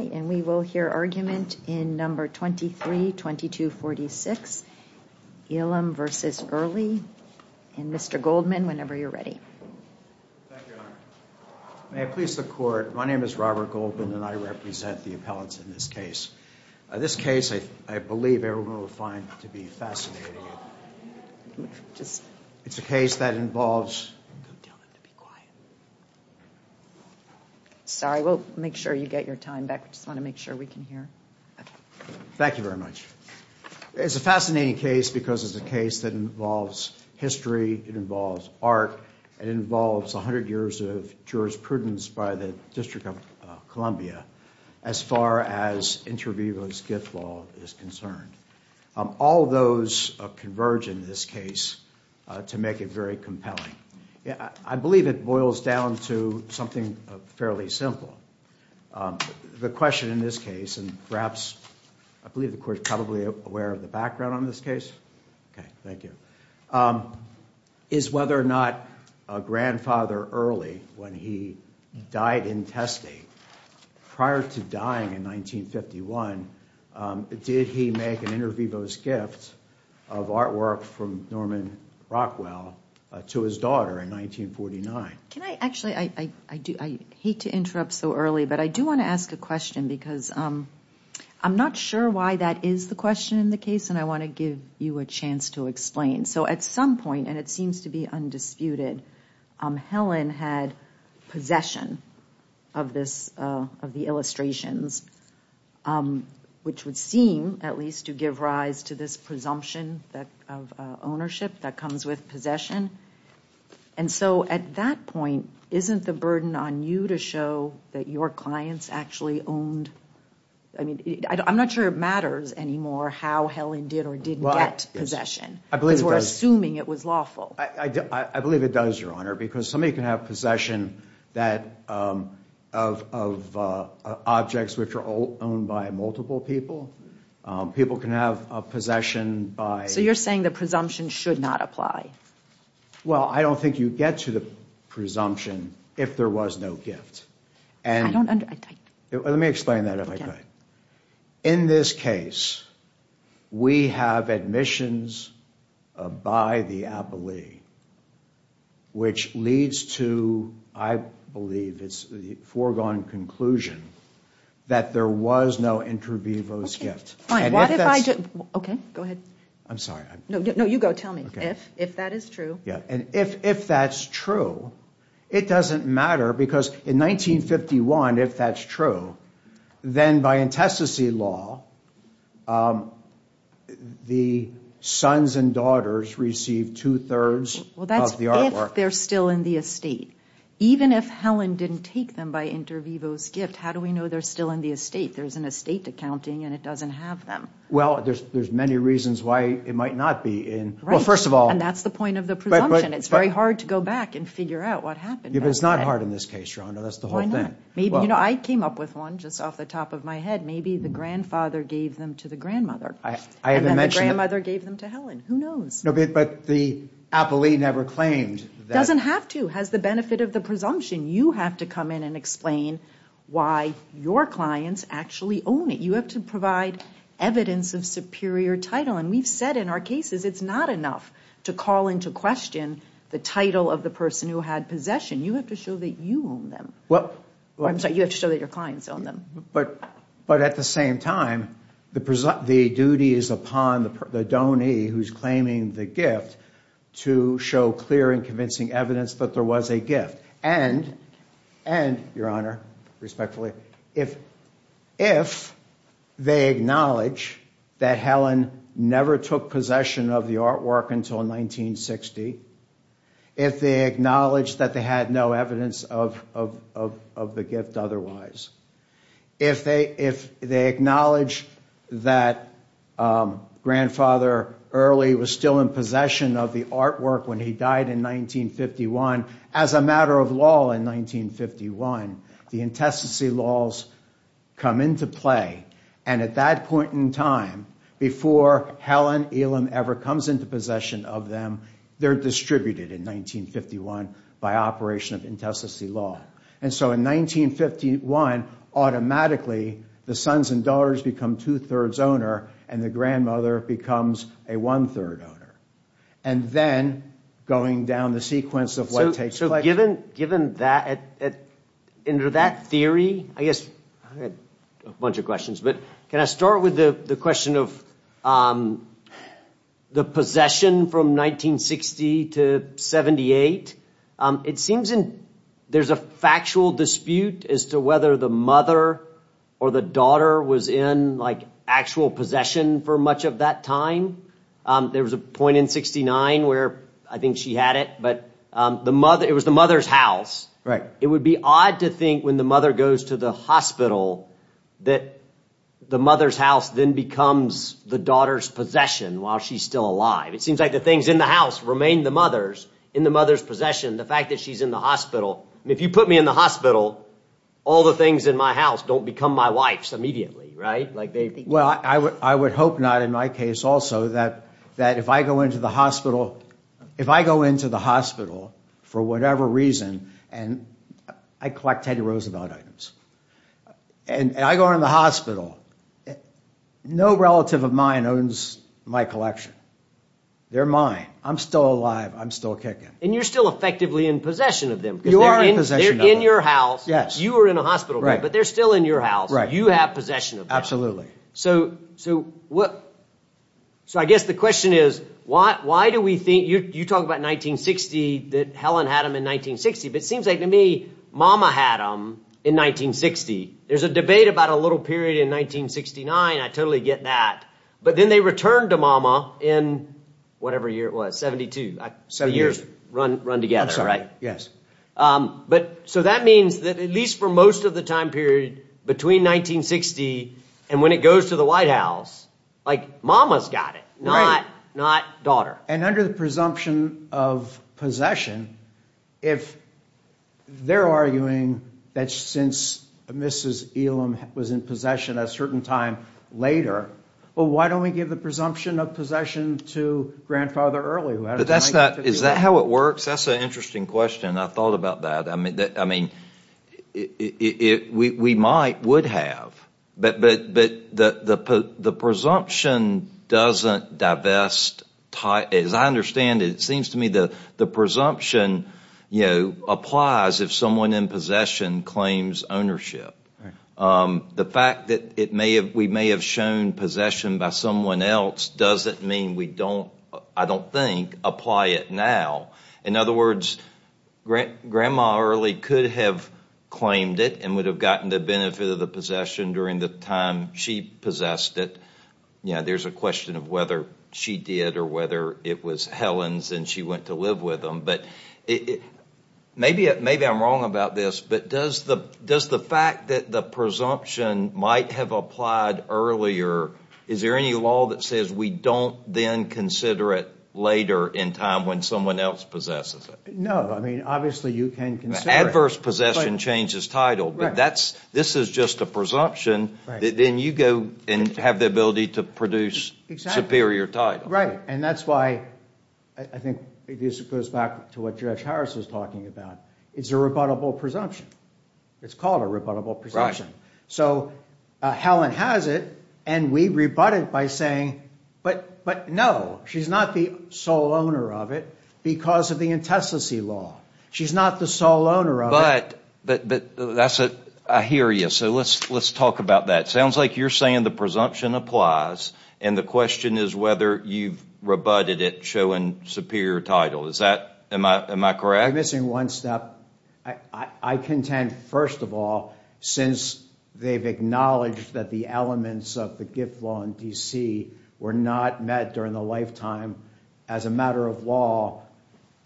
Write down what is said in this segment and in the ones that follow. We will hear argument in No. 23-2246, Elam v. Early, and Mr. Goldman, whenever you're ready. Thank you, Your Honor. May I please the Court? My name is Robert Goldman, and I represent the appellants in this case. This case, I believe, everyone will find to be fascinating. It's a case that involves... Go tell them to be quiet. Sorry, we'll make sure you get your time back. We just want to make sure we can hear. Thank you very much. It's a fascinating case because it's a case that involves history, it involves art, and it involves 100 years of jurisprudence by the District of Columbia as far as inter vivo's gift law is concerned. All those converge in this case to make it very compelling. I believe it boils down to something fairly simple. The question in this case, and perhaps, I believe the Court is probably aware of the background on this case. Okay, thank you. Is whether or not Grandfather Early, when he died in testing prior to dying in 1951, did he make an inter vivo's gift of artwork from Norman Rockwell to his daughter in 1949? Can I actually, I hate to interrupt so early, but I do want to ask a question because I'm not sure why that is the question in the case, and I want to give you a chance to explain. So at some point, and it seems to be undisputed, Helen had possession of the illustrations, which would seem at least to give rise to this presumption of ownership that comes with possession. And so at that point, isn't the burden on you to show that your clients actually owned, I mean, I'm not sure it matters anymore how Helen did or didn't get possession because we're assuming it was lawful. I believe it does, Your Honor, because somebody can have possession of objects which are owned by multiple people. People can have a possession by. So you're saying the presumption should not apply. Well, I don't think you get to the presumption if there was no gift. Let me explain that if I could. In this case, we have admissions by the appellee. Which leads to, I believe it's the foregone conclusion that there was no inter vivo's gift. OK, go ahead. I'm sorry. No, you go. Tell me if that is true. Yeah. And if if that's true, it doesn't matter because in 1951, if that's true, then by intestacy law, the sons and daughters receive two thirds of the artwork. They're still in the estate. Even if Helen didn't take them by inter vivos gift, how do we know they're still in the estate? There's an estate accounting and it doesn't have them. Well, there's there's many reasons why it might not be in. Well, first of all, and that's the point of the. But it's very hard to go back and figure out what happened. If it's not hard in this case, you know, that's the whole thing. Maybe, you know, I came up with one just off the top of my head. Maybe the grandfather gave them to the grandmother. I haven't mentioned grandmother gave them to Helen. Who knows? But the appellee never claimed that doesn't have to has the benefit of the presumption. You have to come in and explain why your clients actually own it. You have to provide evidence of superior title. And we've said in our cases, it's not enough to call into question the title of the person who had possession. You have to show that you own them. Well, I'm sorry. You have to show that your clients own them. But but at the same time, the the duty is upon the the donor who's claiming the gift to show clear and convincing evidence that there was a gift. And and your honor, respectfully, if if they acknowledge that Helen never took possession of the artwork until 1960, if they acknowledge that they had no evidence of of of of the gift otherwise, if they if they acknowledge that grandfather early was still in possession of the artwork when he died in 1951, as a matter of law in 1951, the intestacy laws come into play. And at that point in time, before Helen Elam ever comes into possession of them, they're distributed in 1951 by operation of intestacy law. And so in 1951, automatically, the sons and daughters become two thirds owner and the grandmother becomes a one third owner. And then going down the sequence of what takes place. So given given that at that theory, I guess a bunch of questions. But can I start with the question of the possession from 1960 to 78? It seems there's a factual dispute as to whether the mother or the daughter was in like actual possession for much of that time. There was a point in 69 where I think she had it, but the mother it was the mother's house. Right. It would be odd to think when the mother goes to the hospital that the mother's house then becomes the daughter's possession while she's still alive. It seems like the things in the house remain the mother's in the mother's possession. The fact that she's in the hospital. If you put me in the hospital, all the things in my house don't become my wife's immediately. Right. Well, I would I would hope not in my case also that that if I go into the hospital, if I go into the hospital for whatever reason and I collect Teddy Roosevelt items and I go in the hospital, no relative of mine owns my collection. They're mine. I'm still alive. I'm still kicking. And you're still effectively in possession of them. You are in your house. Yes. You are in a hospital, but they're still in your house. You have possession. Absolutely. So. So what. So I guess the question is, why do we think you talk about 1960 that Helen had them in 1960? But it seems like to me Mama had them in 1960. There's a debate about a little period in 1969. I totally get that. But then they returned to Mama in whatever year it was. So years run together. Right. Yes. But so that means that at least for most of the time period between 1960 and when it goes to the White House, like Mama's got it, not not daughter. And under the presumption of possession, if they're arguing that since Mrs. Elam was in possession a certain time later, well, why don't we give the presumption of possession to grandfather early? Is that how it works? That's an interesting question. I thought about that. I mean, we might would have. But the presumption doesn't divest. As I understand it, it seems to me that the presumption applies if someone in possession claims ownership. The fact that it may have we may have shown possession by someone else doesn't mean we don't I don't think apply it now. In other words, grandma early could have claimed it and would have gotten the benefit of the possession during the time she possessed it. Yeah, there's a question of whether she did or whether it was Helen's and she went to live with them. But maybe maybe I'm wrong about this. But does the does the fact that the presumption might have applied earlier? Is there any law that says we don't then consider it later in time when someone else possesses it? No. I mean, obviously, you can consider adverse possession changes title. But that's this is just a presumption. Then you go and have the ability to produce. Right. And that's why I think this goes back to what Josh Harris is talking about. It's a rebuttable presumption. It's called a rebuttable presumption. So Helen has it and we rebut it by saying, but but no, she's not the sole owner of it because of the intestacy law. She's not the sole owner. But but that's it. I hear you. So let's let's talk about that. Sounds like you're saying the presumption applies. And the question is whether you've rebutted it showing superior title. Is that am I am I correct? I'm missing one step. I contend, first of all, since they've acknowledged that the elements of the gift law in D.C. were not met during the lifetime as a matter of law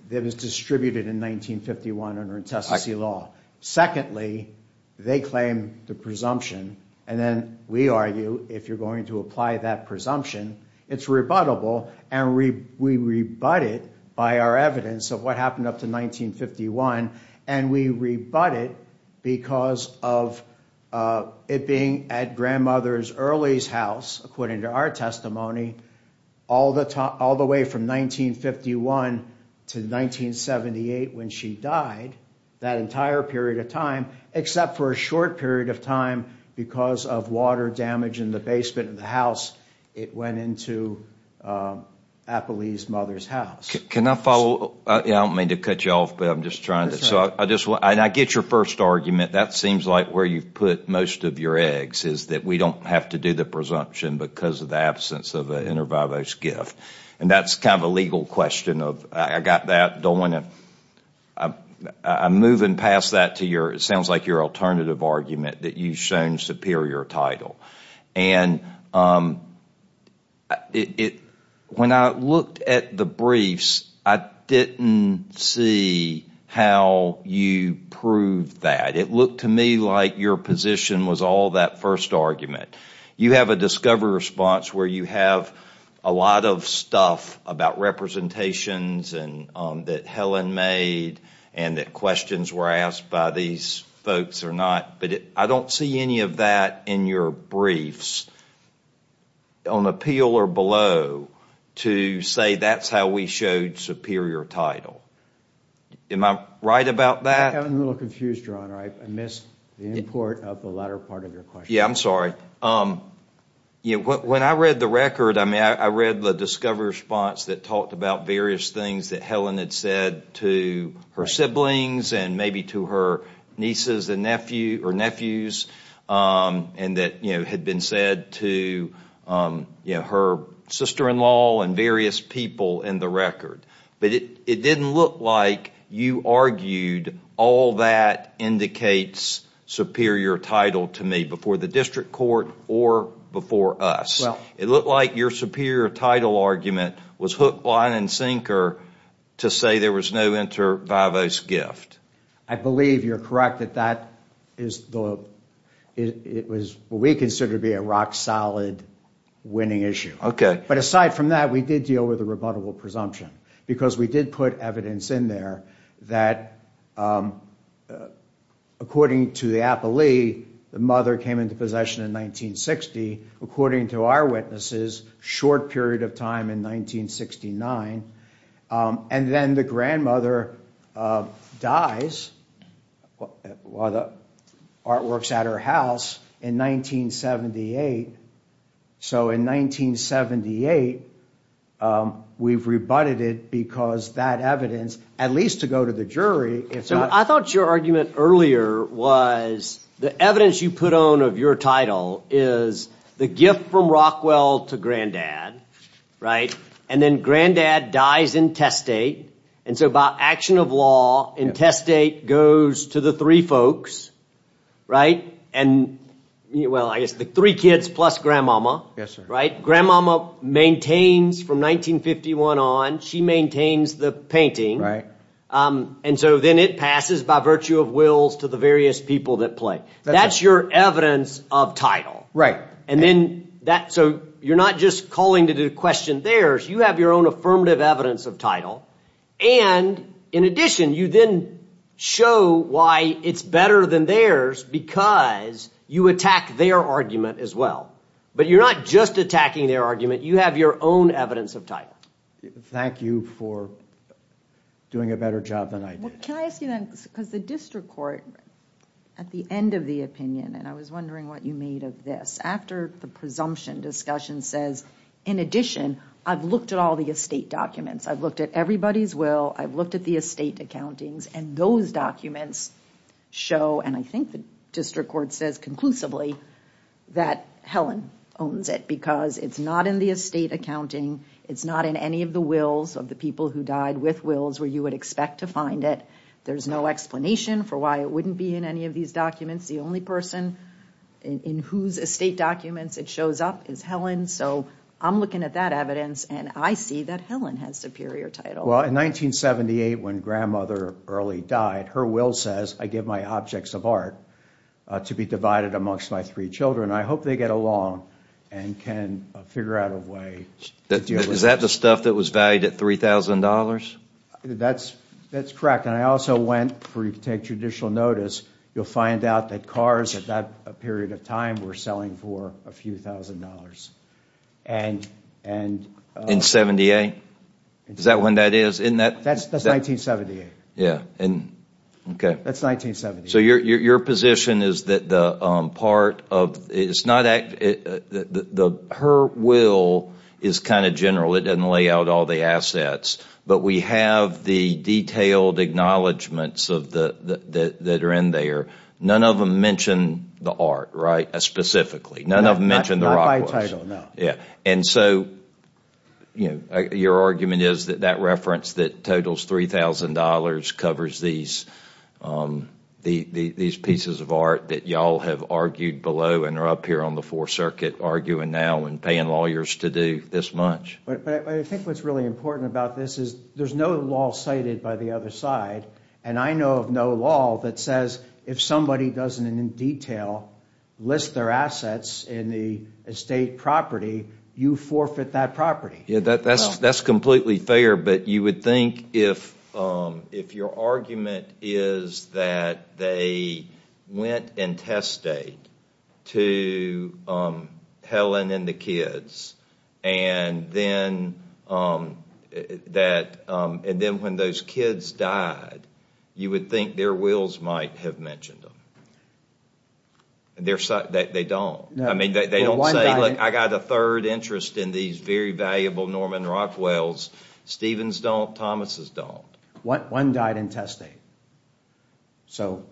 that was distributed in 1951 under intestacy law. Secondly, they claim the presumption. And then we argue, if you're going to apply that presumption, it's rebuttable. And we rebut it by our evidence of what happened up to 1951. And we rebut it because of it being at grandmother's early house, according to our testimony, all the time, all the way from 1951 to 1978. When she died that entire period of time, except for a short period of time because of water damage in the basement of the house. It went into Apple's mother's house. Can I follow? I don't mean to cut you off, but I'm just trying to. So I just want to get your first argument. That seems like where you put most of your eggs is that we don't have to do the presumption because of the absence of an inter vivos gift. And that's kind of a legal question. I got that. I'm moving past that to your, it sounds like your alternative argument that you've shown superior title. And when I looked at the briefs, I didn't see how you proved that. It looked to me like your position was all that first argument. You have a discovery response where you have a lot of stuff about representations that Helen made and that questions were asked by these folks or not. But I don't see any of that in your briefs, on appeal or below, to say that's how we showed superior title. Am I right about that? I'm a little confused, Your Honor. I missed the import of the latter part of your question. Yeah, I'm sorry. When I read the record, I read the discovery response that talked about various things that Helen had said to her siblings and maybe to her nieces and nephews and that had been said to her sister-in-law and various people in the record. But it didn't look like you argued all that indicates superior title to me before the district court or before us. It looked like your superior title argument was hook, line, and sinker to say there was no inter vivos gift. I believe you're correct that that is what we consider to be a rock-solid winning issue. But aside from that, we did deal with a rebuttable presumption because we did put evidence in there that, according to the appellee, the mother came into possession in 1960, according to our witnesses, short period of time in 1969. And then the grandmother dies while the artwork's at her house in 1978. So in 1978, we've rebutted it because that evidence, at least to go to the jury. So I thought your argument earlier was the evidence you put on of your title is the gift from Rockwell to Granddad, right? And then Granddad dies in test date. And so by action of law, in test date, goes to the three folks, right? And, well, I guess the three kids plus Grandmama, right? Grandmama maintains from 1951 on. She maintains the painting. And so then it passes by virtue of wills to the various people that play. That's your evidence of title. Right. So you're not just calling it a question theirs. You have your own affirmative evidence of title. And in addition, you then show why it's better than theirs because you attack their argument as well. But you're not just attacking their argument. You have your own evidence of title. Thank you for doing a better job than I did. Can I ask you then, because the district court, at the end of the opinion, and I was wondering what you made of this. After the presumption discussion says, in addition, I've looked at all the estate documents. I've looked at everybody's will. I've looked at the estate accountings. And those documents show, and I think the district court says conclusively, that Helen owns it. Because it's not in the estate accounting. It's not in any of the wills of the people who died with wills where you would expect to find it. There's no explanation for why it wouldn't be in any of these documents. The only person in whose estate documents it shows up is Helen. So I'm looking at that evidence, and I see that Helen has superior title. Well, in 1978, when Grandmother Early died, her will says, I give my objects of art to be divided amongst my three children. I hope they get along and can figure out a way. Is that the stuff that was valued at $3,000? That's correct. And I also went, for you to take judicial notice, you'll find out that cars at that period of time were selling for a few thousand dollars. In 78? Is that when that is? That's 1978. Yeah. Okay. That's 1978. So your position is that her will is kind of general. It doesn't lay out all the assets. But we have the detailed acknowledgments that are in there. None of them mention the art, right, specifically. None of them mention the rock works. Not by title, no. Yeah. And so, you know, your argument is that that reference that totals $3,000 covers these pieces of art that y'all have argued below and are up here on the Fourth Circuit arguing now and paying lawyers to do this much. But I think what's really important about this is there's no law cited by the other side, and I know of no law that says if somebody doesn't in detail list their assets in the estate property, you forfeit that property. That's completely fair, but you would think if your argument is that they went and test stayed to Helen and the kids, and then when those kids died, you would think their wills might have mentioned them. They don't. I mean, they don't say, look, I got a third interest in these very valuable Norman Rockwells. Stevens don't. Thomas's don't. One died in test state. So,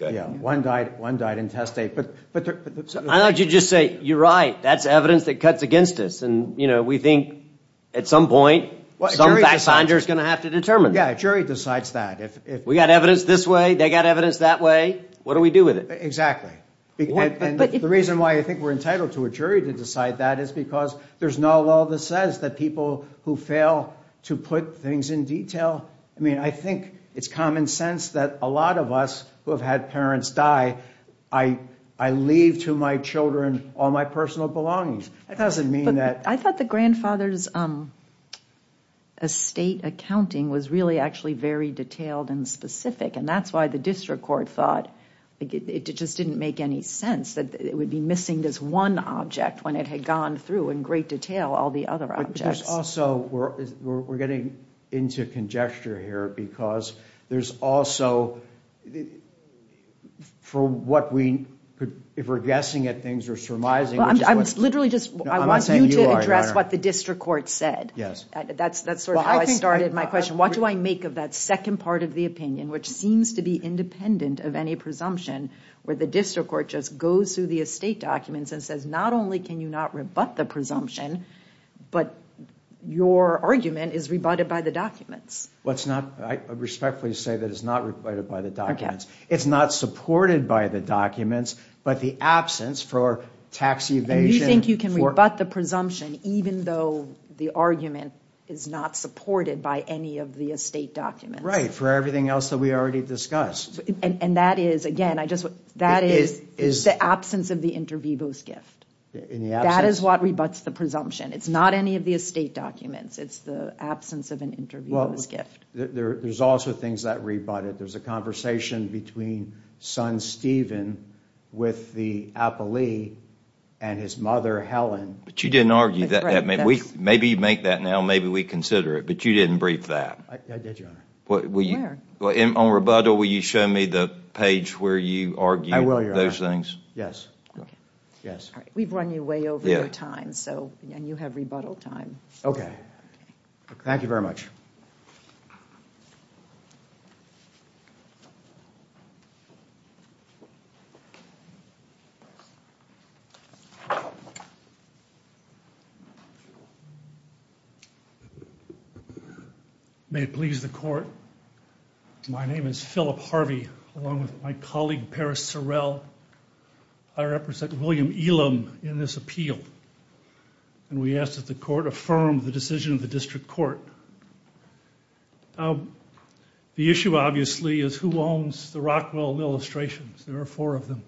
yeah, one died in test state. But I thought you'd just say, you're right. That's evidence that cuts against us. And, you know, we think at some point some fact finder is going to have to determine that. Yeah, a jury decides that. If we got evidence this way, they got evidence that way, what do we do with it? Exactly. The reason why I think we're entitled to a jury to decide that is because there's no law that says that people who fail to put things in detail. I mean, I think it's common sense that a lot of us who have had parents die, I leave to my children all my personal belongings. It doesn't mean that. I thought the grandfather's estate accounting was really actually very detailed and specific. And that's why the district court thought it just didn't make any sense that it would be missing this one object when it had gone through in great detail all the other objects. Also, we're getting into congestion here because there's also, for what we, if we're guessing at things, we're surmising. I'm literally just, I want you to address what the district court said. Yes. That's sort of how I started my question. What do I make of that second part of the opinion, which seems to be independent of any presumption, where the district court just goes through the estate documents and says, not only can you not rebut the presumption, but your argument is rebutted by the documents? Let's not respectfully say that it's not rebutted by the documents. It's not supported by the documents, but the absence for tax evasion. You think you can rebut the presumption even though the argument is not supported by any of the estate documents? Right, for everything else that we already discussed. And that is, again, I just, that is the absence of the inter vivos gift. In the absence? That is what rebuts the presumption. It's not any of the estate documents. It's the absence of an inter vivos gift. There's also things that rebut it. There's a conversation between son Stephen with the appellee and his mother Helen. But you didn't argue that. Maybe you make that now, maybe we consider it, but you didn't brief that. I did, Your Honor. Where? On rebuttal, will you show me the page where you argue those things? Yes. We've run you way over your time, and you have rebuttal time. Okay. Thank you very much. May it please the court. My name is Philip Harvey, along with my colleague Paris Sorrell. I represent William Elam in this appeal. And we ask that the court affirm the decision of the district court. The issue, obviously, is who owns the Rockwell illustrations. There are four of them.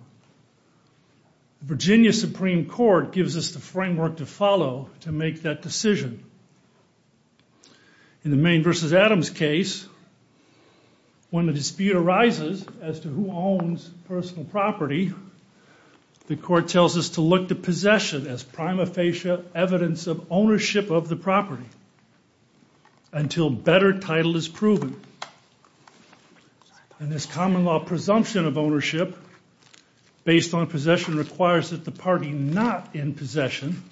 Virginia Supreme Court gives us the framework to follow to make that decision. In the Maine v. Adams case, when the dispute arises as to who owns personal property, the court tells us to look to possession as prima facie evidence of ownership of the property until better title is proven. And this common law presumption of ownership based on possession requires that the party not in possession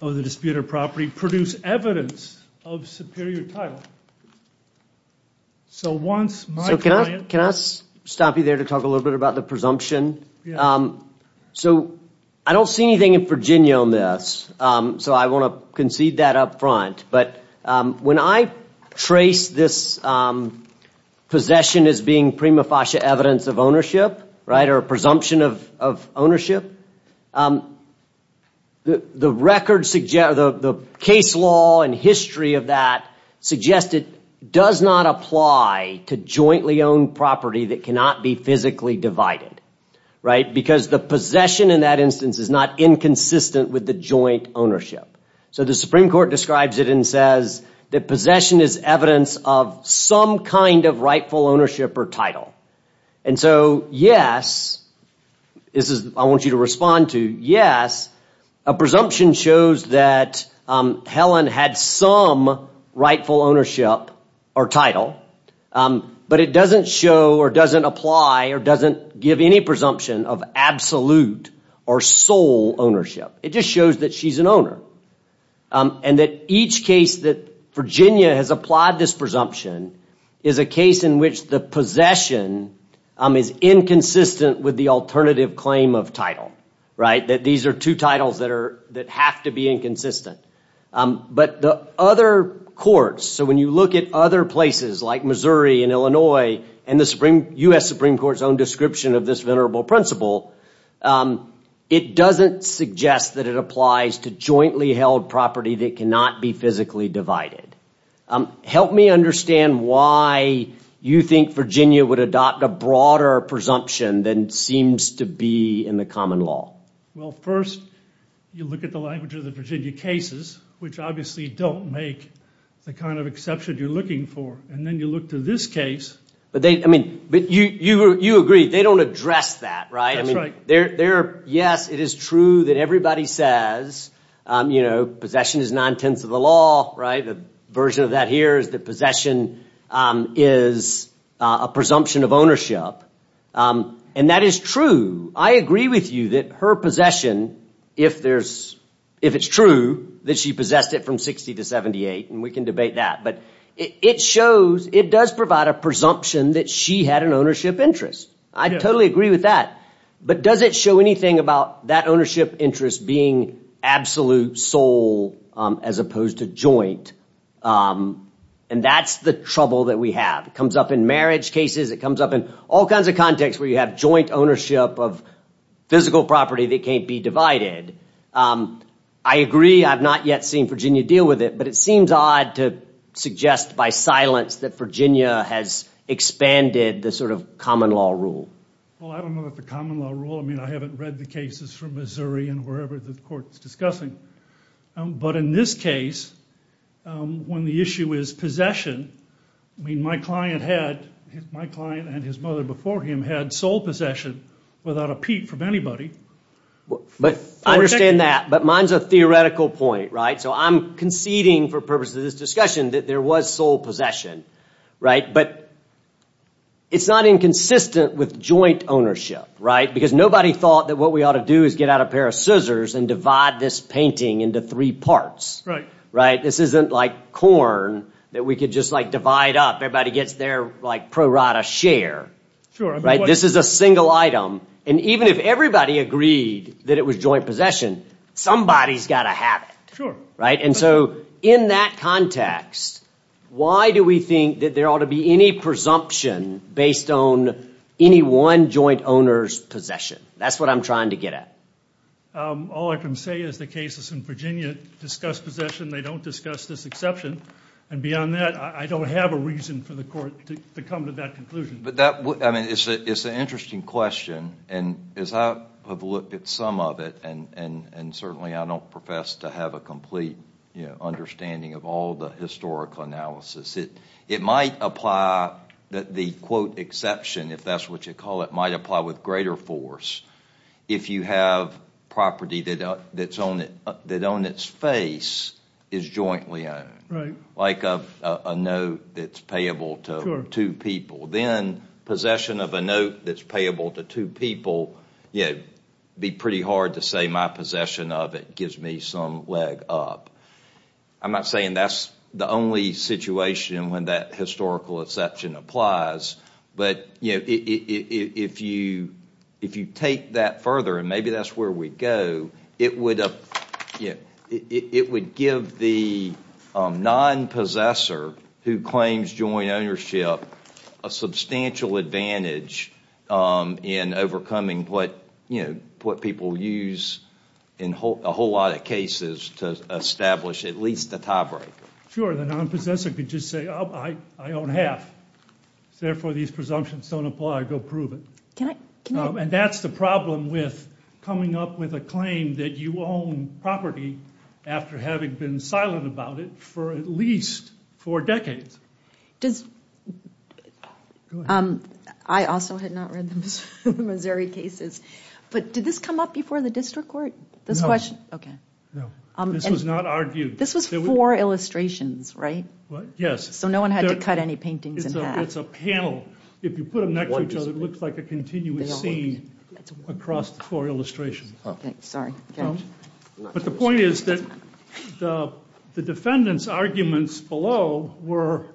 of the disputed property produce evidence of superior title. So once my client... Can I stop you there to talk a little bit about the presumption? So I don't see anything in Virginia on this, so I want to concede that up front. But when I trace this possession as being prima facie evidence of ownership, or a presumption of ownership, the case law and history of that suggests it does not apply to jointly owned property that cannot be physically divided. Because the possession in that instance is not inconsistent with the joint ownership. So the Supreme Court describes it and says that possession is evidence of some kind of rightful ownership or title. And so yes, this is... I want you to respond to yes, a presumption shows that Helen had some rightful ownership or title, but it doesn't show or doesn't apply or doesn't give any presumption of absolute or sole ownership. It just shows that she's an owner. And that each case that Virginia has applied this presumption is a case in which the possession is inconsistent with the alternative claim of title. That these are two titles that have to be inconsistent. But the other courts, so when you look at other places like Missouri and Illinois and the U.S. Supreme Court's own description of this venerable principle, it doesn't suggest that it applies to jointly held property that cannot be physically divided. Help me understand why you think Virginia would adopt a broader presumption than seems to be in the common law. Well, first, you look at the language of the Virginia cases, which obviously don't make the kind of exception you're looking for. And then you look to this case. But you agree, they don't address that, right? That's right. Yes, it is true that everybody says, you know, the version of that here is that possession is a presumption of ownership. And that is true. I agree with you that her possession, if it's true, that she possessed it from 60 to 78. And we can debate that. But it shows, it does provide a presumption that she had an ownership interest. I totally agree with that. But does it show anything about that ownership interest being absolute, sole, as opposed to joint? And that's the trouble that we have. It comes up in marriage cases. It comes up in all kinds of contexts where you have joint ownership of physical property that can't be divided. I agree. I've not yet seen Virginia deal with it. But it seems odd to suggest by silence that Virginia has expanded the sort of common law rule. Well, I don't know about the common law rule. I mean, I haven't read the cases from Missouri and wherever the court is discussing. But in this case, when the issue is possession, I mean, my client and his mother before him had sole possession without a peep from anybody. But I understand that. But mine's a theoretical point, right? So I'm conceding for purposes of this discussion that there was sole possession, right? But it's not inconsistent with joint ownership, right? Right. This isn't like corn that we could just, like, divide up. Everybody gets their, like, prorata share. Sure. This is a single item. And even if everybody agreed that it was joint possession, somebody's got to have it. Sure. Right? And so in that context, why do we think that there ought to be any presumption based on any one joint owner's possession? That's what I'm trying to get at. All I can say is the cases in Virginia discuss possession. They don't discuss this exception. And beyond that, I don't have a reason for the court to come to that conclusion. But that, I mean, it's an interesting question. And as I have looked at some of it, and certainly I don't profess to have a complete understanding of all the historical analysis, it might apply that the, quote, exception, if that's what you call it, might apply with greater force. If you have property that on its face is jointly owned. Like a note that's payable to two people. Sure. Then possession of a note that's payable to two people, you know, it would be pretty hard to say my possession of it gives me some leg up. I'm not saying that's the only situation when that historical exception applies. But, you know, if you take that further, and maybe that's where we go, it would give the non-possessor who claims joint ownership a substantial advantage in overcoming what people use in a whole lot of cases to establish at least a tiebreaker. Sure. The non-possessor could just say I own half. Therefore these presumptions don't apply. Go prove it. Can I? And that's the problem with coming up with a claim that you own property after having been silent about it for at least four decades. Does, I also had not read the Missouri cases, but did this come up before the district court? Okay. This was not argued. This was four illustrations, right? Yes. So no one had to cut any paintings in half. It's a panel. If you put them next to each other, it looks like a continuous scene across the four illustrations. Okay. Sorry. But the point is that the defendants' arguments below were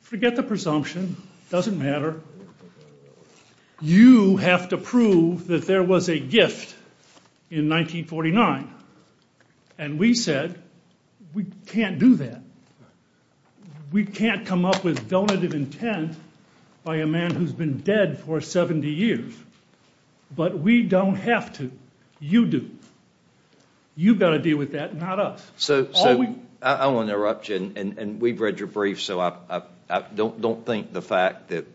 forget the presumption. It doesn't matter. You have to prove that there was a gift in 1949. And we said we can't do that. We can't come up with donative intent by a man who's been dead for 70 years. But we don't have to. You do. You've got to deal with that, not us. So I want to interrupt you, and we've read your brief, so I don't think the fact that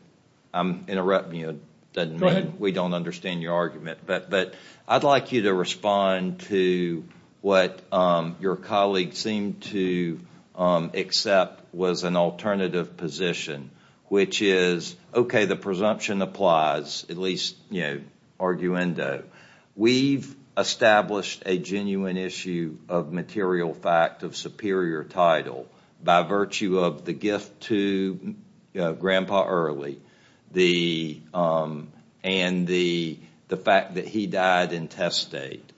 I'm interrupting you doesn't mean we don't understand your argument. But I'd like you to respond to what your colleague seemed to accept was an alternative position, which is, okay, the presumption applies, at least, you know, arguendo. We've established a genuine issue of material fact of superior title by virtue of the gift to Grandpa Early and the fact that he died intestate.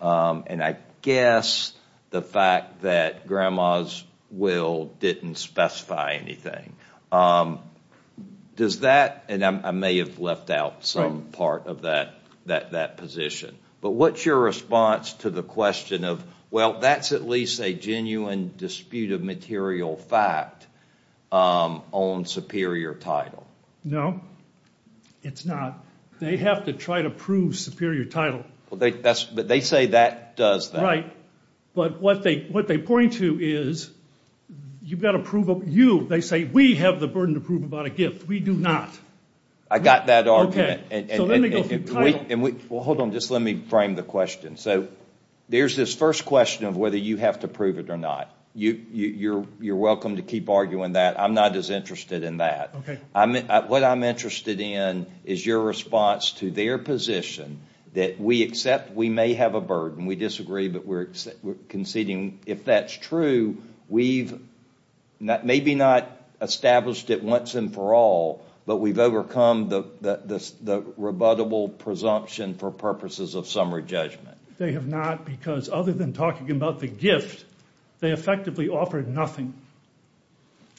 And I guess the fact that Grandma's will didn't specify anything. Does that, and I may have left out some part of that position, but what's your response to the question of, well, that's at least a genuine dispute of material fact on superior title? No, it's not. They have to try to prove superior title. But they say that does that. Right. But what they point to is, you've got to prove, you, they say, we have the burden to prove about a gift. We do not. I got that argument. Okay. Let me frame the question. So there's this first question of whether you have to prove it or not. You're welcome to keep arguing that. I'm not as interested in that. What I'm interested in is your response to their position that we accept we may have a burden. We disagree, but we're conceding if that's true, we've maybe not established it once and for all, but we've overcome the rebuttable presumption for purposes of summary judgment. They have not, because other than talking about the gift, they effectively offered nothing.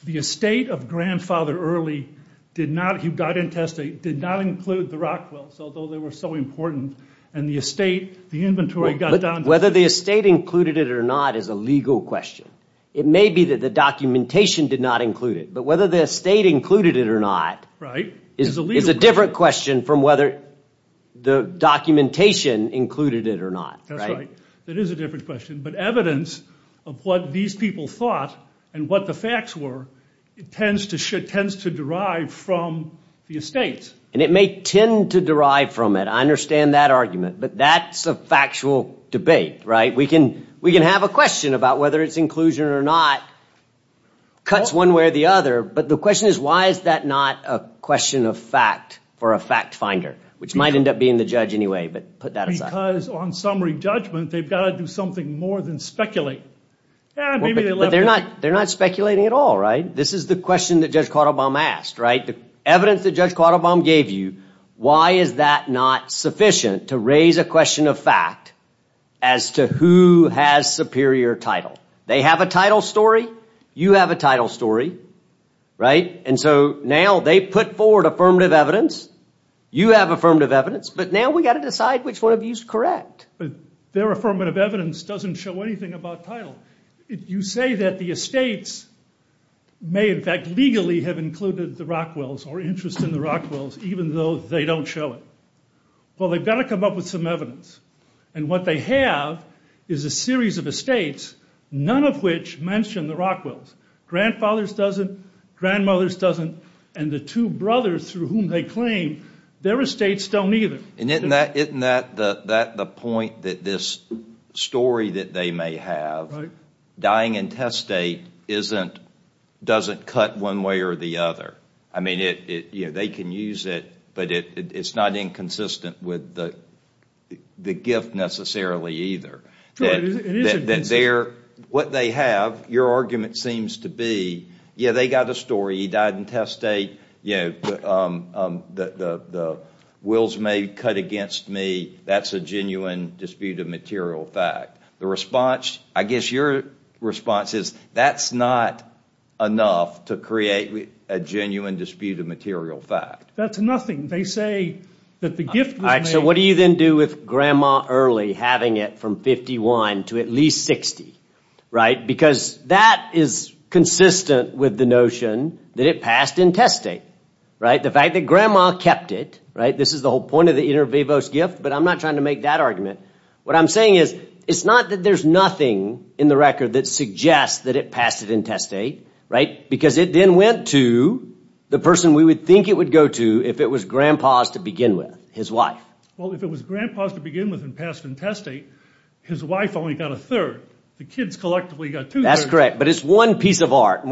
The estate of Grandfather Early did not, he got intestate, did not include the rock quilts, although they were so important, and the estate, the inventory got down. Whether the estate included it or not is a legal question. It may be that the documentation did not include it, but whether the estate included it or not is a different question from whether the documentation included it or not. That's right. That is a different question. But evidence of what these people thought and what the facts were tends to derive from the estate. And it may tend to derive from it. I understand that argument, but that's a factual debate. We can have a question about whether it's inclusion or not, cuts one way or the other, but the question is why is that not a question of fact for a fact finder, which might end up being the judge anyway, but put that aside. Because on summary judgment, they've got to do something more than speculate. They're not speculating at all, right? This is the question that Judge Quattlebaum asked, right? Evidence that Judge Quattlebaum gave you, why is that not sufficient to raise a question of fact as to who has superior title? They have a title story. You have a title story, right? And so now they put forward affirmative evidence. You have affirmative evidence. But now we've got to decide which one of you is correct. Their affirmative evidence doesn't show anything about title. You say that the estates may in fact legally have included the Rockwells or interest in the Rockwells, even though they don't show it. Well, they've got to come up with some evidence. And what they have is a series of estates, none of which mention the Rockwells. Grandfathers doesn't. Grandmothers doesn't. And the two brothers through whom they claim, their estates don't either. And isn't that the point that this story that they may have, dying in test state, doesn't cut one way or the other? I mean, they can use it, but it's not inconsistent with the gift necessarily either. What they have, your argument seems to be, yeah, they got a story. He died in test state. The wills may be cut against me. That's a genuine dispute of material fact. The response, I guess your response is, that's not enough to create a genuine dispute of material fact. That's nothing. They say that the gift was made. So what do you then do with Grandma Early having it from 51 to at least 60, right? Because that is consistent with the notion that it passed in test state, right? The fact that Grandma kept it, right? This is the whole point of the inter vivos gift, but I'm not trying to make that argument. What I'm saying is, it's not that there's nothing in the record that suggests that it passed it in test state, right? Because it then went to the person we would think it would go to if it was Grandpa's to begin with, his wife. Well, if it was Grandpa's to begin with and passed in test state, his wife only got a third. The kids collectively got two thirds. That's correct, but it's one piece of art.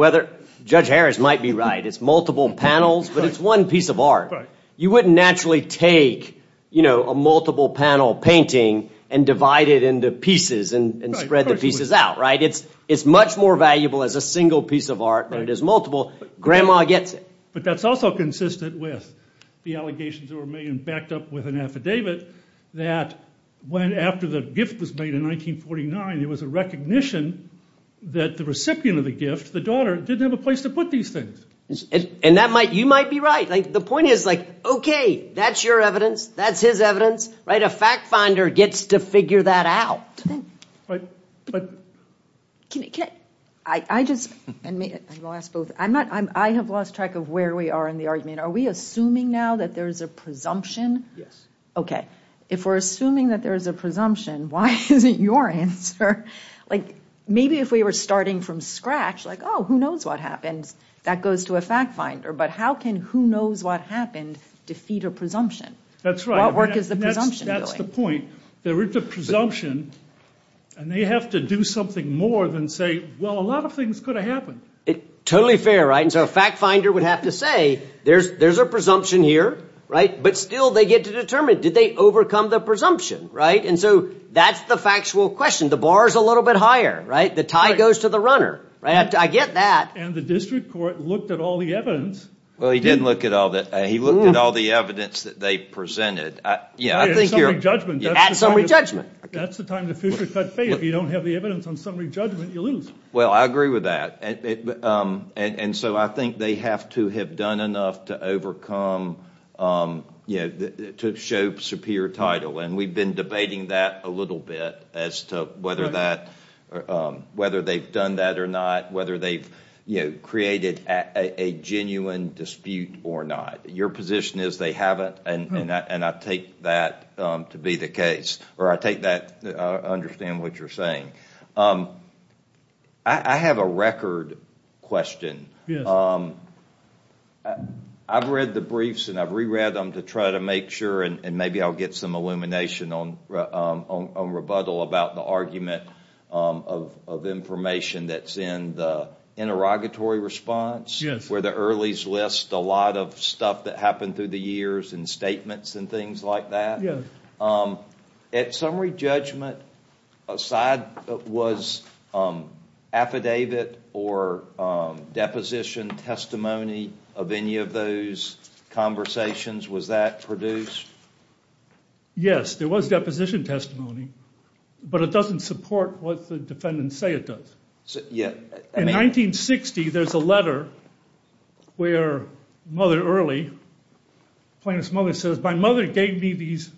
Judge Harris might be right. It's multiple panels, but it's one piece of art. You wouldn't naturally take a multiple panel painting and divide it into pieces and spread the pieces out, right? It's much more valuable as a single piece of art than it is multiple. Grandma gets it. But that's also consistent with the allegations that were made and backed up with an affidavit that went after the gift was made in 1949. It was a recognition that the recipient of the gift, the daughter, didn't have a place to put these things. And you might be right. The point is, like, okay, that's your evidence. That's his evidence, right? A fact finder gets to figure that out. I have lost track of where we are in the argument. Are we assuming now that there is a presumption? Yes. Okay. If we're assuming that there is a presumption, why isn't your answer, like, maybe if we were starting from scratch, like, oh, who knows what happens? That goes to a fact finder. But how can who knows what happened defeat a presumption? That's right. What work is the presumption doing? That's the point. There is a presumption, and they have to do something more than say, well, a lot of things could have happened. Totally fair, right? And so a fact finder would have to say, there's a presumption here, right? But still they get to determine, did they overcome the presumption, right? And so that's the factual question. The bar is a little bit higher, right? The tie goes to the runner, right? I get that. And the district court looked at all the evidence. Well, he didn't look at all the evidence. He looked at all the evidence that they presented. At summary judgment. At summary judgment. That's the time to future cut faith. If you don't have the evidence on summary judgment, you lose. Well, I agree with that. And so I think they have to have done enough to overcome, you know, to show superior title. And we've been debating that a little bit as to whether that, whether they've done that or not, whether they've, you know, created a genuine dispute or not. Your position is they haven't, and I take that to be the case. Or I take that, I understand what you're saying. I have a record question. I've read the briefs and I've reread them to try to make sure, and maybe I'll get some illumination on rebuttal about the argument of information that's in the interrogatory response. Yes. That's where the earliest list, a lot of stuff that happened through the years and statements and things like that. Yes. At summary judgment, aside, was affidavit or deposition testimony of any of those conversations, was that produced? Yes, there was deposition testimony, but it doesn't support what the defendants say it does. In 1960, there's a letter where Mother Early, plaintiff's mother says, my mother gave me these,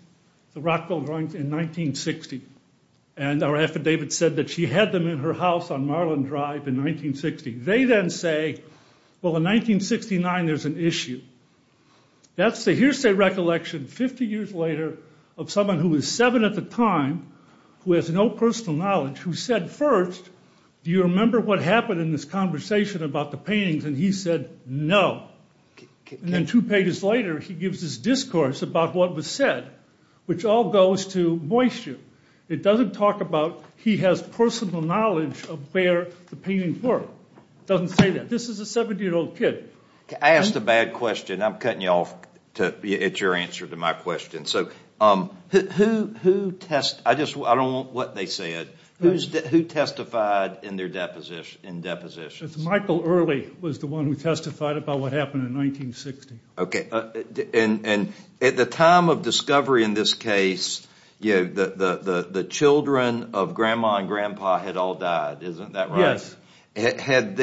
the Rockville drawings in 1960. And our affidavit said that she had them in her house on Marlin Drive in 1960. They then say, well, in 1969, there's an issue. That's the hearsay recollection 50 years later of someone who was seven at the time, who has no personal knowledge, who said first, do you remember what happened in this conversation about the paintings? And he said, no. And then two pages later, he gives this discourse about what was said, which all goes to moisture. It doesn't talk about he has personal knowledge of where the paintings were. It doesn't say that. This is a 70-year-old kid. I asked a bad question. I'm cutting you off. It's your answer to my question. Who testified in their depositions? Michael Early was the one who testified about what happened in 1960. At the time of discovery in this case, the children of Grandma and Grandpa had all died, isn't that right? Yes. Had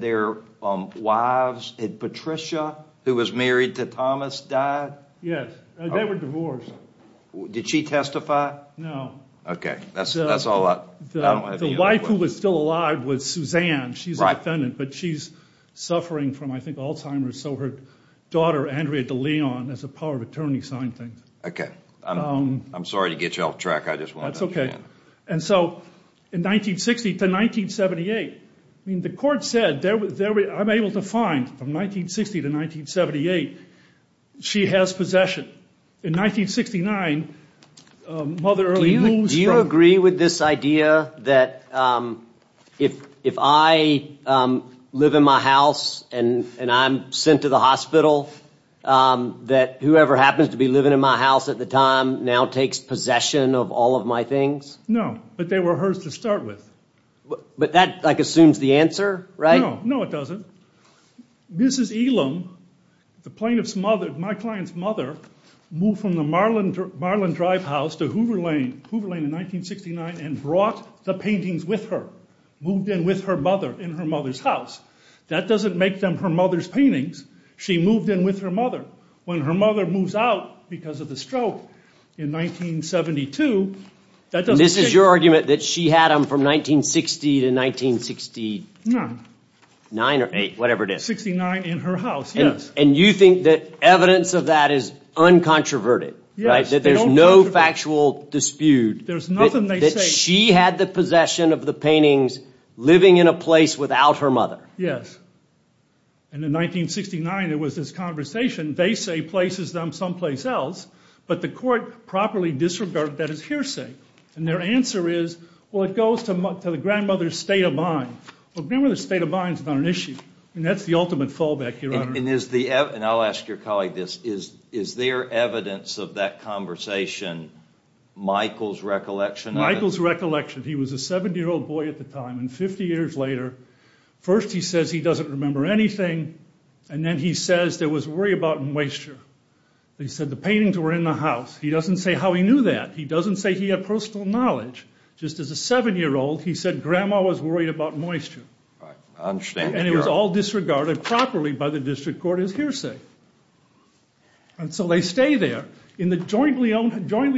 their wives, had Patricia, who was married to Thomas, died? Yes. They were divorced. Did she testify? No. Okay. The wife who was still alive was Suzanne. She's a defendant, but she's suffering from, I think, Alzheimer's. So her daughter, Andrea De Leon, has the power of attorney signed things. Okay. I'm sorry to get you off track. That's okay. In 1960 to 1978, the court said I'm able to find, from 1960 to 1978, she has possession. In 1969, Mother Early moves from- Do you agree with this idea that if I live in my house and I'm sent to the hospital, that whoever happens to be living in my house at the time now takes possession of all of my things? No. But they were hers to start with. But that assumes the answer, right? No. No, it doesn't. Mrs. Elam, the plaintiff's mother, my client's mother, moved from the Marlin Drive house to Hoover Lane in 1969 and brought the paintings with her, moved in with her mother in her mother's house. That doesn't make them her mother's paintings. She moved in with her mother. When her mother moves out because of the stroke in 1972, that doesn't change. This is your argument that she had them from 1960 to 1969 or eight, whatever it is. 1969 in her house, yes. And you think that evidence of that is uncontroverted, right? Yes. That there's no factual dispute. There's nothing they say- That she had the possession of the paintings living in a place without her mother. Yes. And in 1969, there was this conversation. They say places them someplace else, but the court properly disregarded that as hearsay. And their answer is, well, it goes to the grandmother's state of mind. Well, the grandmother's state of mind's not an issue. And that's the ultimate fallback, Your Honor. And I'll ask your colleague this. Is there evidence of that conversation, Michael's recollection of it? Michael's recollection. He was a 70-year-old boy at the time. And 50 years later, first he says he doesn't remember anything. And then he says there was worry about moisture. He said the paintings were in the house. He doesn't say how he knew that. He doesn't say he had personal knowledge. Just as a 7-year-old, he said grandma was worried about moisture. I understand, Your Honor. And it was all disregarded properly by the district court as hearsay. And so they stay there in the jointly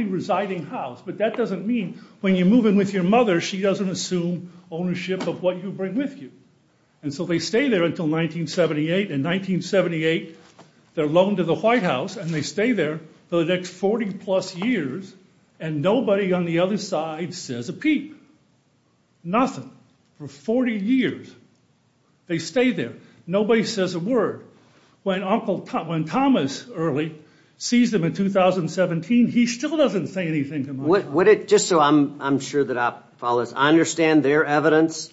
residing house. But that doesn't mean when you move in with your mother, she doesn't assume ownership of what you bring with you. And so they stay there until 1978. In 1978, they're loaned to the White House. And they stay there for the next 40-plus years. And nobody on the other side says a peep. Nothing for 40 years. They stay there. Nobody says a word. When Thomas Early sees them in 2017, he still doesn't say anything. Just so I'm sure that I follow this. I understand their evidence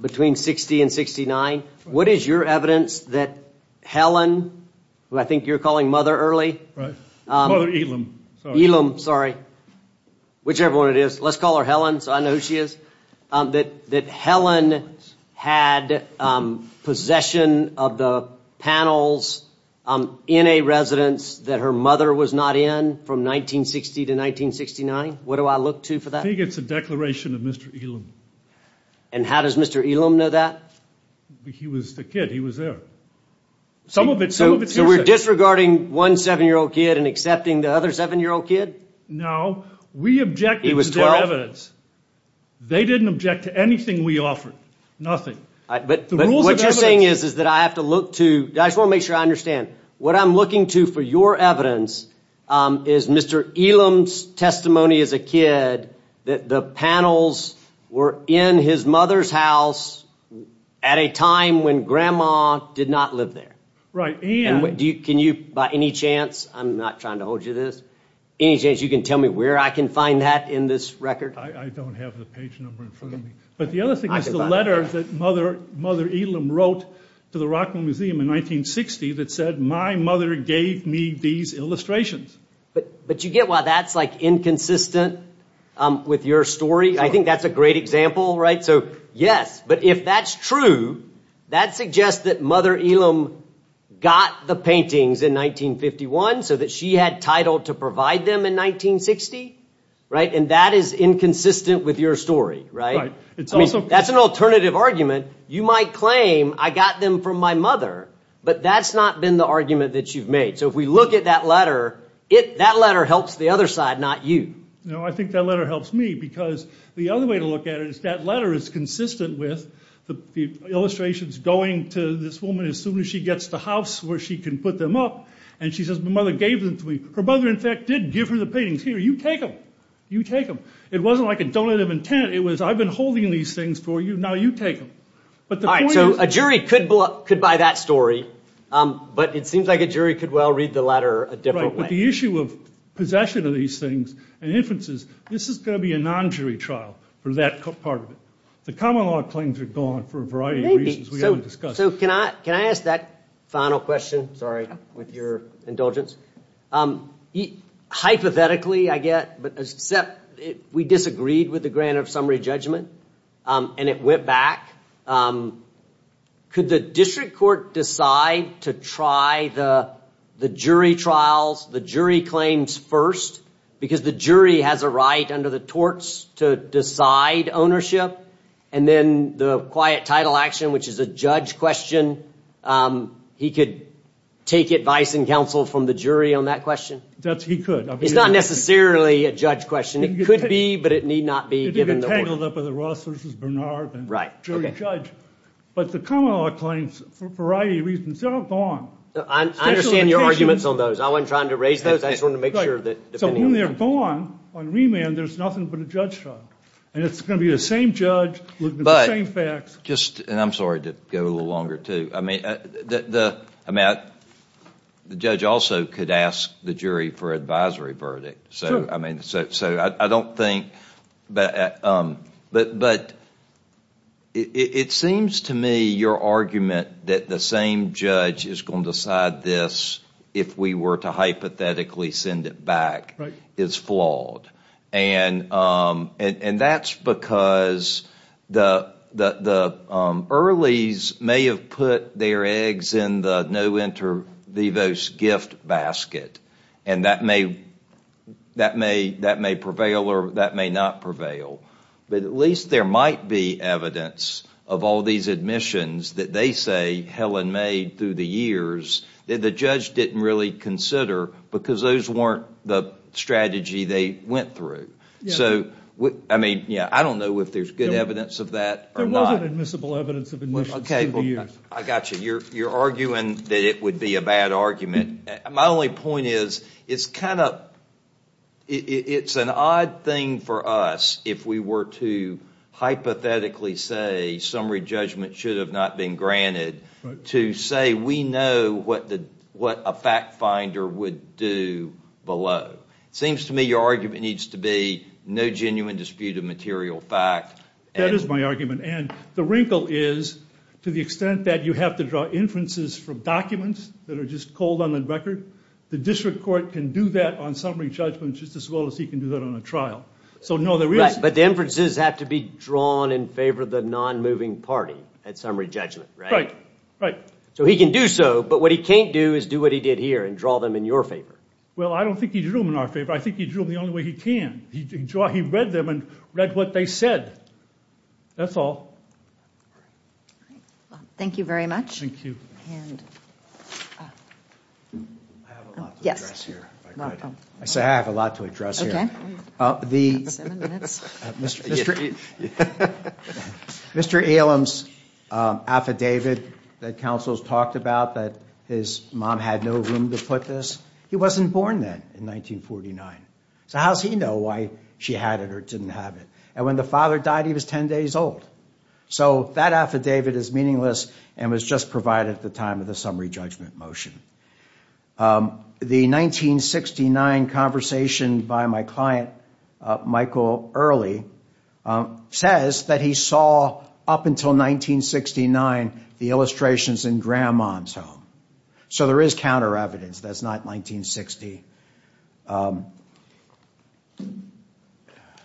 between 60 and 69. What is your evidence that Helen, who I think you're calling Mother Early. Mother Elam. Elam, sorry. Whichever one it is. Let's call her Helen so I know who she is. That Helen had possession of the panels in a residence that her mother was not in from 1960 to 1969? What do I look to for that? I think it's a declaration of Mr. Elam. And how does Mr. Elam know that? He was the kid. He was there. So we're disregarding one 7-year-old kid and accepting the other 7-year-old kid? No. We object to their evidence. They didn't object to anything we offered. But what you're saying is that I have to look to. I just want to make sure I understand. What I'm looking to for your evidence is Mr. Elam's testimony as a kid that the panels were in his mother's house at a time when Grandma did not live there. Right. And. Can you by any chance. I'm not trying to hold you to this. Any chance you can tell me where I can find that in this record? I don't have the page number in front of me. But the other thing is the letter that Mother Elam wrote to the Rockwell Museum in 1960 that said, my mother gave me these illustrations. But you get why that's like inconsistent with your story? I think that's a great example. Right. So yes. But if that's true, that suggests that Mother Elam got the paintings in 1951 so that she had title to provide them in 1960. Right. And that is inconsistent with your story. Right. It's also. That's an alternative argument. You might claim I got them from my mother, but that's not been the argument that you've made. So if we look at that letter, that letter helps the other side, not you. I think that letter helps me because the other way to look at it is that letter is consistent with the illustrations going to this woman as soon as she gets to the house where she can put them up. And she says, my mother gave them to me. Her mother, in fact, did give her the paintings. Here, you take them. You take them. It wasn't like a donative intent. It was I've been holding these things for you. Now you take them. All right. So a jury could buy that story. But it seems like a jury could well read the letter a different way. The issue of possession of these things and inferences, this is going to be a non-jury trial for that part of it. The common law claims are gone for a variety of reasons we haven't discussed. So can I ask that final question? Sorry, with your indulgence. Hypothetically, I get, except we disagreed with the grant of summary judgment and it went back. Could the district court decide to try the jury trials, the jury claims first? Because the jury has a right under the torts to decide ownership. And then the quiet title action, which is a judge question, he could take advice and counsel from the jury on that question? He could. It's not necessarily a judge question. It could be, but it need not be. It could be tangled up with a Ross versus Bernard jury judge. But the common law claims, for a variety of reasons, they're all gone. I understand your arguments on those. I wasn't trying to raise those. I just wanted to make sure. So when they're gone on remand, there's nothing but a judge trial. And it's going to be the same judge looking at the same facts. And I'm sorry to go a little longer, too. The judge also could ask the jury for an advisory verdict. But it seems to me your argument that the same judge is going to decide this if we were to hypothetically send it back is flawed. And that's because the Earleys may have put their eggs in the no inter vivos gift basket. And that may prevail or that may not prevail. But at least there might be evidence of all these admissions that they say Helen made through the years that the judge didn't really consider because those weren't the strategy they went through. I don't know if there's good evidence of that or not. There wasn't admissible evidence of admissions through the years. I got you. You're arguing that it would be a bad argument. My only point is it's an odd thing for us if we were to hypothetically say summary judgment should have not been granted to say we know what a fact finder would do below. It seems to me your argument needs to be no genuine dispute of material fact. That is my argument. And the wrinkle is to the extent that you have to draw inferences from documents that are just cold on the record, the district court can do that on summary judgment just as well as he can do that on a trial. But the inferences have to be drawn in favor of the non-moving party at summary judgment. Right. So he can do so, but what he can't do is do what he did here and draw them in your favor. Well, I don't think he drew them in our favor. I think he drew them the only way he can. He read them and read what they said. That's all. Thank you very much. Thank you. I have a lot to address here. I say I have a lot to address here. Seven minutes. Mr. Alem's affidavit that counsels talked about that his mom had no room to put this, he wasn't born then in 1949. So how does he know why she had it or didn't have it? And when the father died, he was 10 days old. So that affidavit is meaningless and was just provided at the time of the summary judgment motion. The 1969 conversation by my client, Michael Early, says that he saw up until 1969 the illustrations in Grandma's home. So there is counter evidence that's not 1960.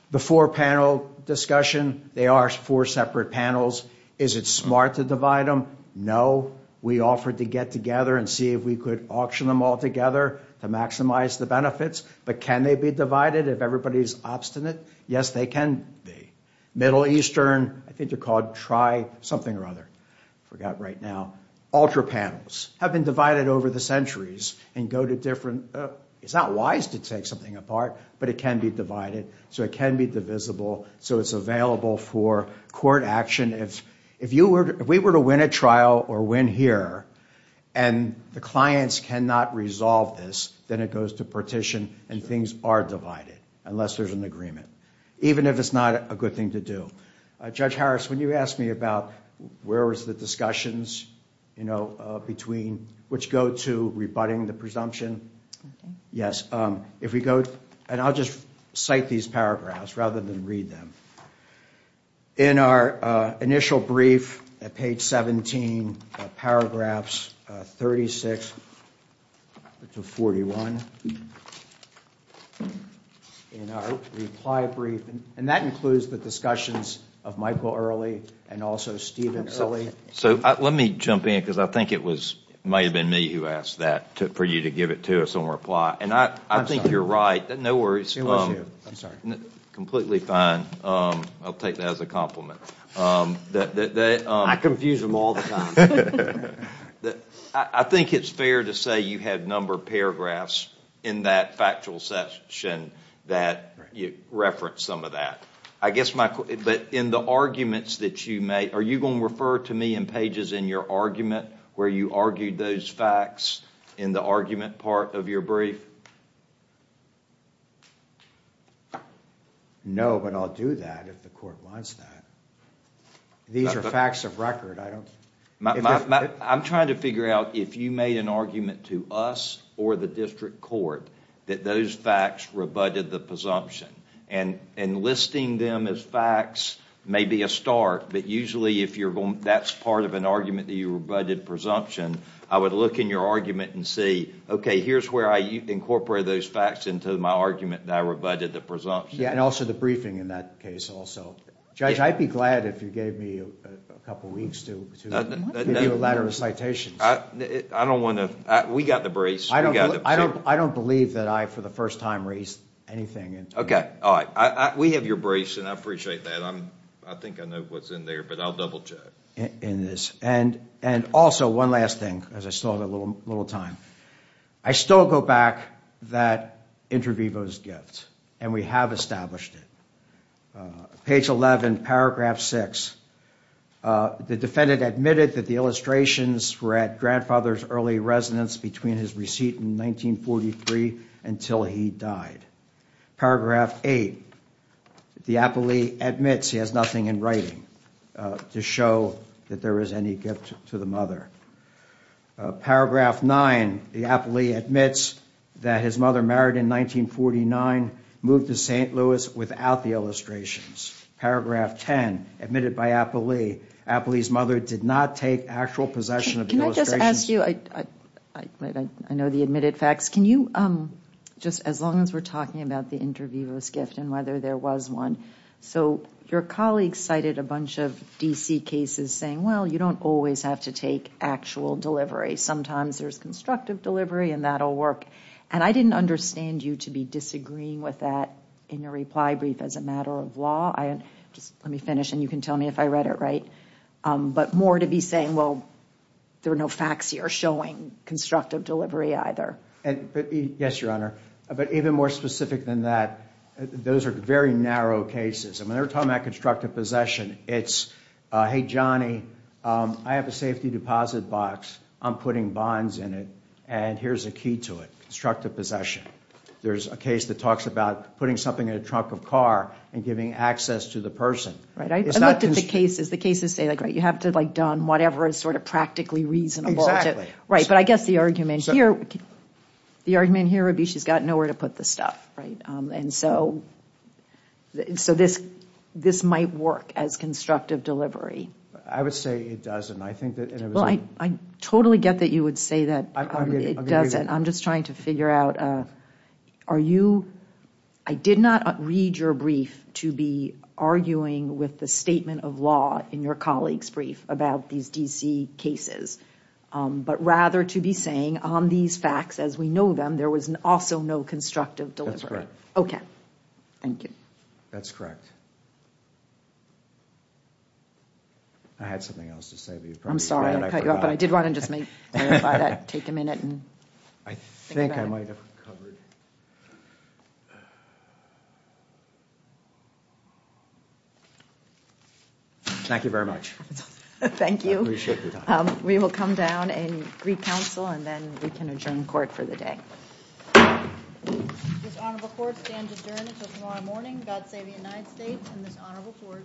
The four-panel discussion, they are four separate panels. Is it smart to divide them? No. We offered to get together and see if we could auction them all together to maximize the benefits. But can they be divided if everybody is obstinate? Yes, they can be. Middle Eastern, I think they're called Tri something or other. I forgot right now. Ultra panels have been divided over the centuries and go to different. It's not wise to take something apart, but it can be divided. So it can be divisible. So it's available for court action. If we were to win a trial or win here and the clients cannot resolve this, then it goes to partition and things are divided unless there's an agreement, even if it's not a good thing to do. Judge Harris, when you asked me about where was the discussions, you know, between which go to rebutting the presumption. Yes. If we go and I'll just cite these paragraphs rather than read them. In our initial brief at page 17, paragraphs 36 to 41. In our reply brief. And that includes the discussions of Michael Early and also Steven. So let me jump in because I think it was might have been me who asked that for you to give it to us on reply. And I think you're right. No worries. I'm sorry. Completely fine. I'll take that as a compliment. I confuse them all the time. I think it's fair to say you had a number of paragraphs in that factual session that you referenced some of that. I guess, Michael, but in the arguments that you make, are you going to refer to me in pages in your argument where you argued those facts in the argument part of your brief? No, but I'll do that if the court wants that. These are facts of record. I'm trying to figure out if you made an argument to us or the district court that those facts rebutted the presumption. And enlisting them as facts may be a start, but usually that's part of an argument that you rebutted presumption. I would look in your argument and see, okay, here's where I incorporate those facts into my argument that I rebutted the presumption. Yeah, and also the briefing in that case also. Judge, I'd be glad if you gave me a couple weeks to review a letter of citations. I don't want to. We got the briefs. I don't believe that I, for the first time, raised anything. Okay. All right. We have your briefs, and I appreciate that. I think I know what's in there, but I'll double check. And also, one last thing, because I still have a little time. I still go back that inter vivos gift, and we have established it. Page 11, paragraph 6, the defendant admitted that the illustrations were at grandfather's early residence between his receipt in 1943 until he died. Paragraph 8, the appellee admits he has nothing in writing to show that there is any gift to the mother. Paragraph 9, the appellee admits that his mother married in 1949, moved to St. Louis without the illustrations. Paragraph 10, admitted by appellee, appellee's mother did not take actual possession of the illustrations. I know the admitted facts. Can you, just as long as we're talking about the inter vivos gift and whether there was one, so your colleagues cited a bunch of D.C. cases saying, well, you don't always have to take actual delivery. Sometimes there's constructive delivery, and that will work. And I didn't understand you to be disagreeing with that in your reply brief as a matter of law. Just let me finish, and you can tell me if I read it right. But more to be saying, well, there are no facts here showing constructive delivery either. Yes, Your Honor. But even more specific than that, those are very narrow cases. I mean, they're talking about constructive possession. It's, hey, Johnny, I have a safety deposit box. I'm putting bonds in it, and here's a key to it, constructive possession. There's a case that talks about putting something in a trunk of car and giving access to the person. Right, I looked at the cases. The cases say, like, right, you have to, like, done whatever is sort of practically reasonable. Right, but I guess the argument here would be she's got nowhere to put the stuff, right? And so this might work as constructive delivery. I would say it doesn't. I totally get that you would say that it doesn't. I'm just trying to figure out, are you, I did not read your brief to be arguing with the statement of law in your colleague's brief about these D.C. cases. But rather to be saying, on these facts as we know them, there was also no constructive delivery. Okay, thank you. That's correct. I had something else to say to you. I'm sorry I cut you off, but I did want to just clarify that, take a minute and think about it. I think I might have covered. Thank you very much. Thank you. I appreciate your time. We will come down and recouncil, and then we can adjourn court for the day. This honorable court stands adjourned until tomorrow morning. God save the United States and this honorable court.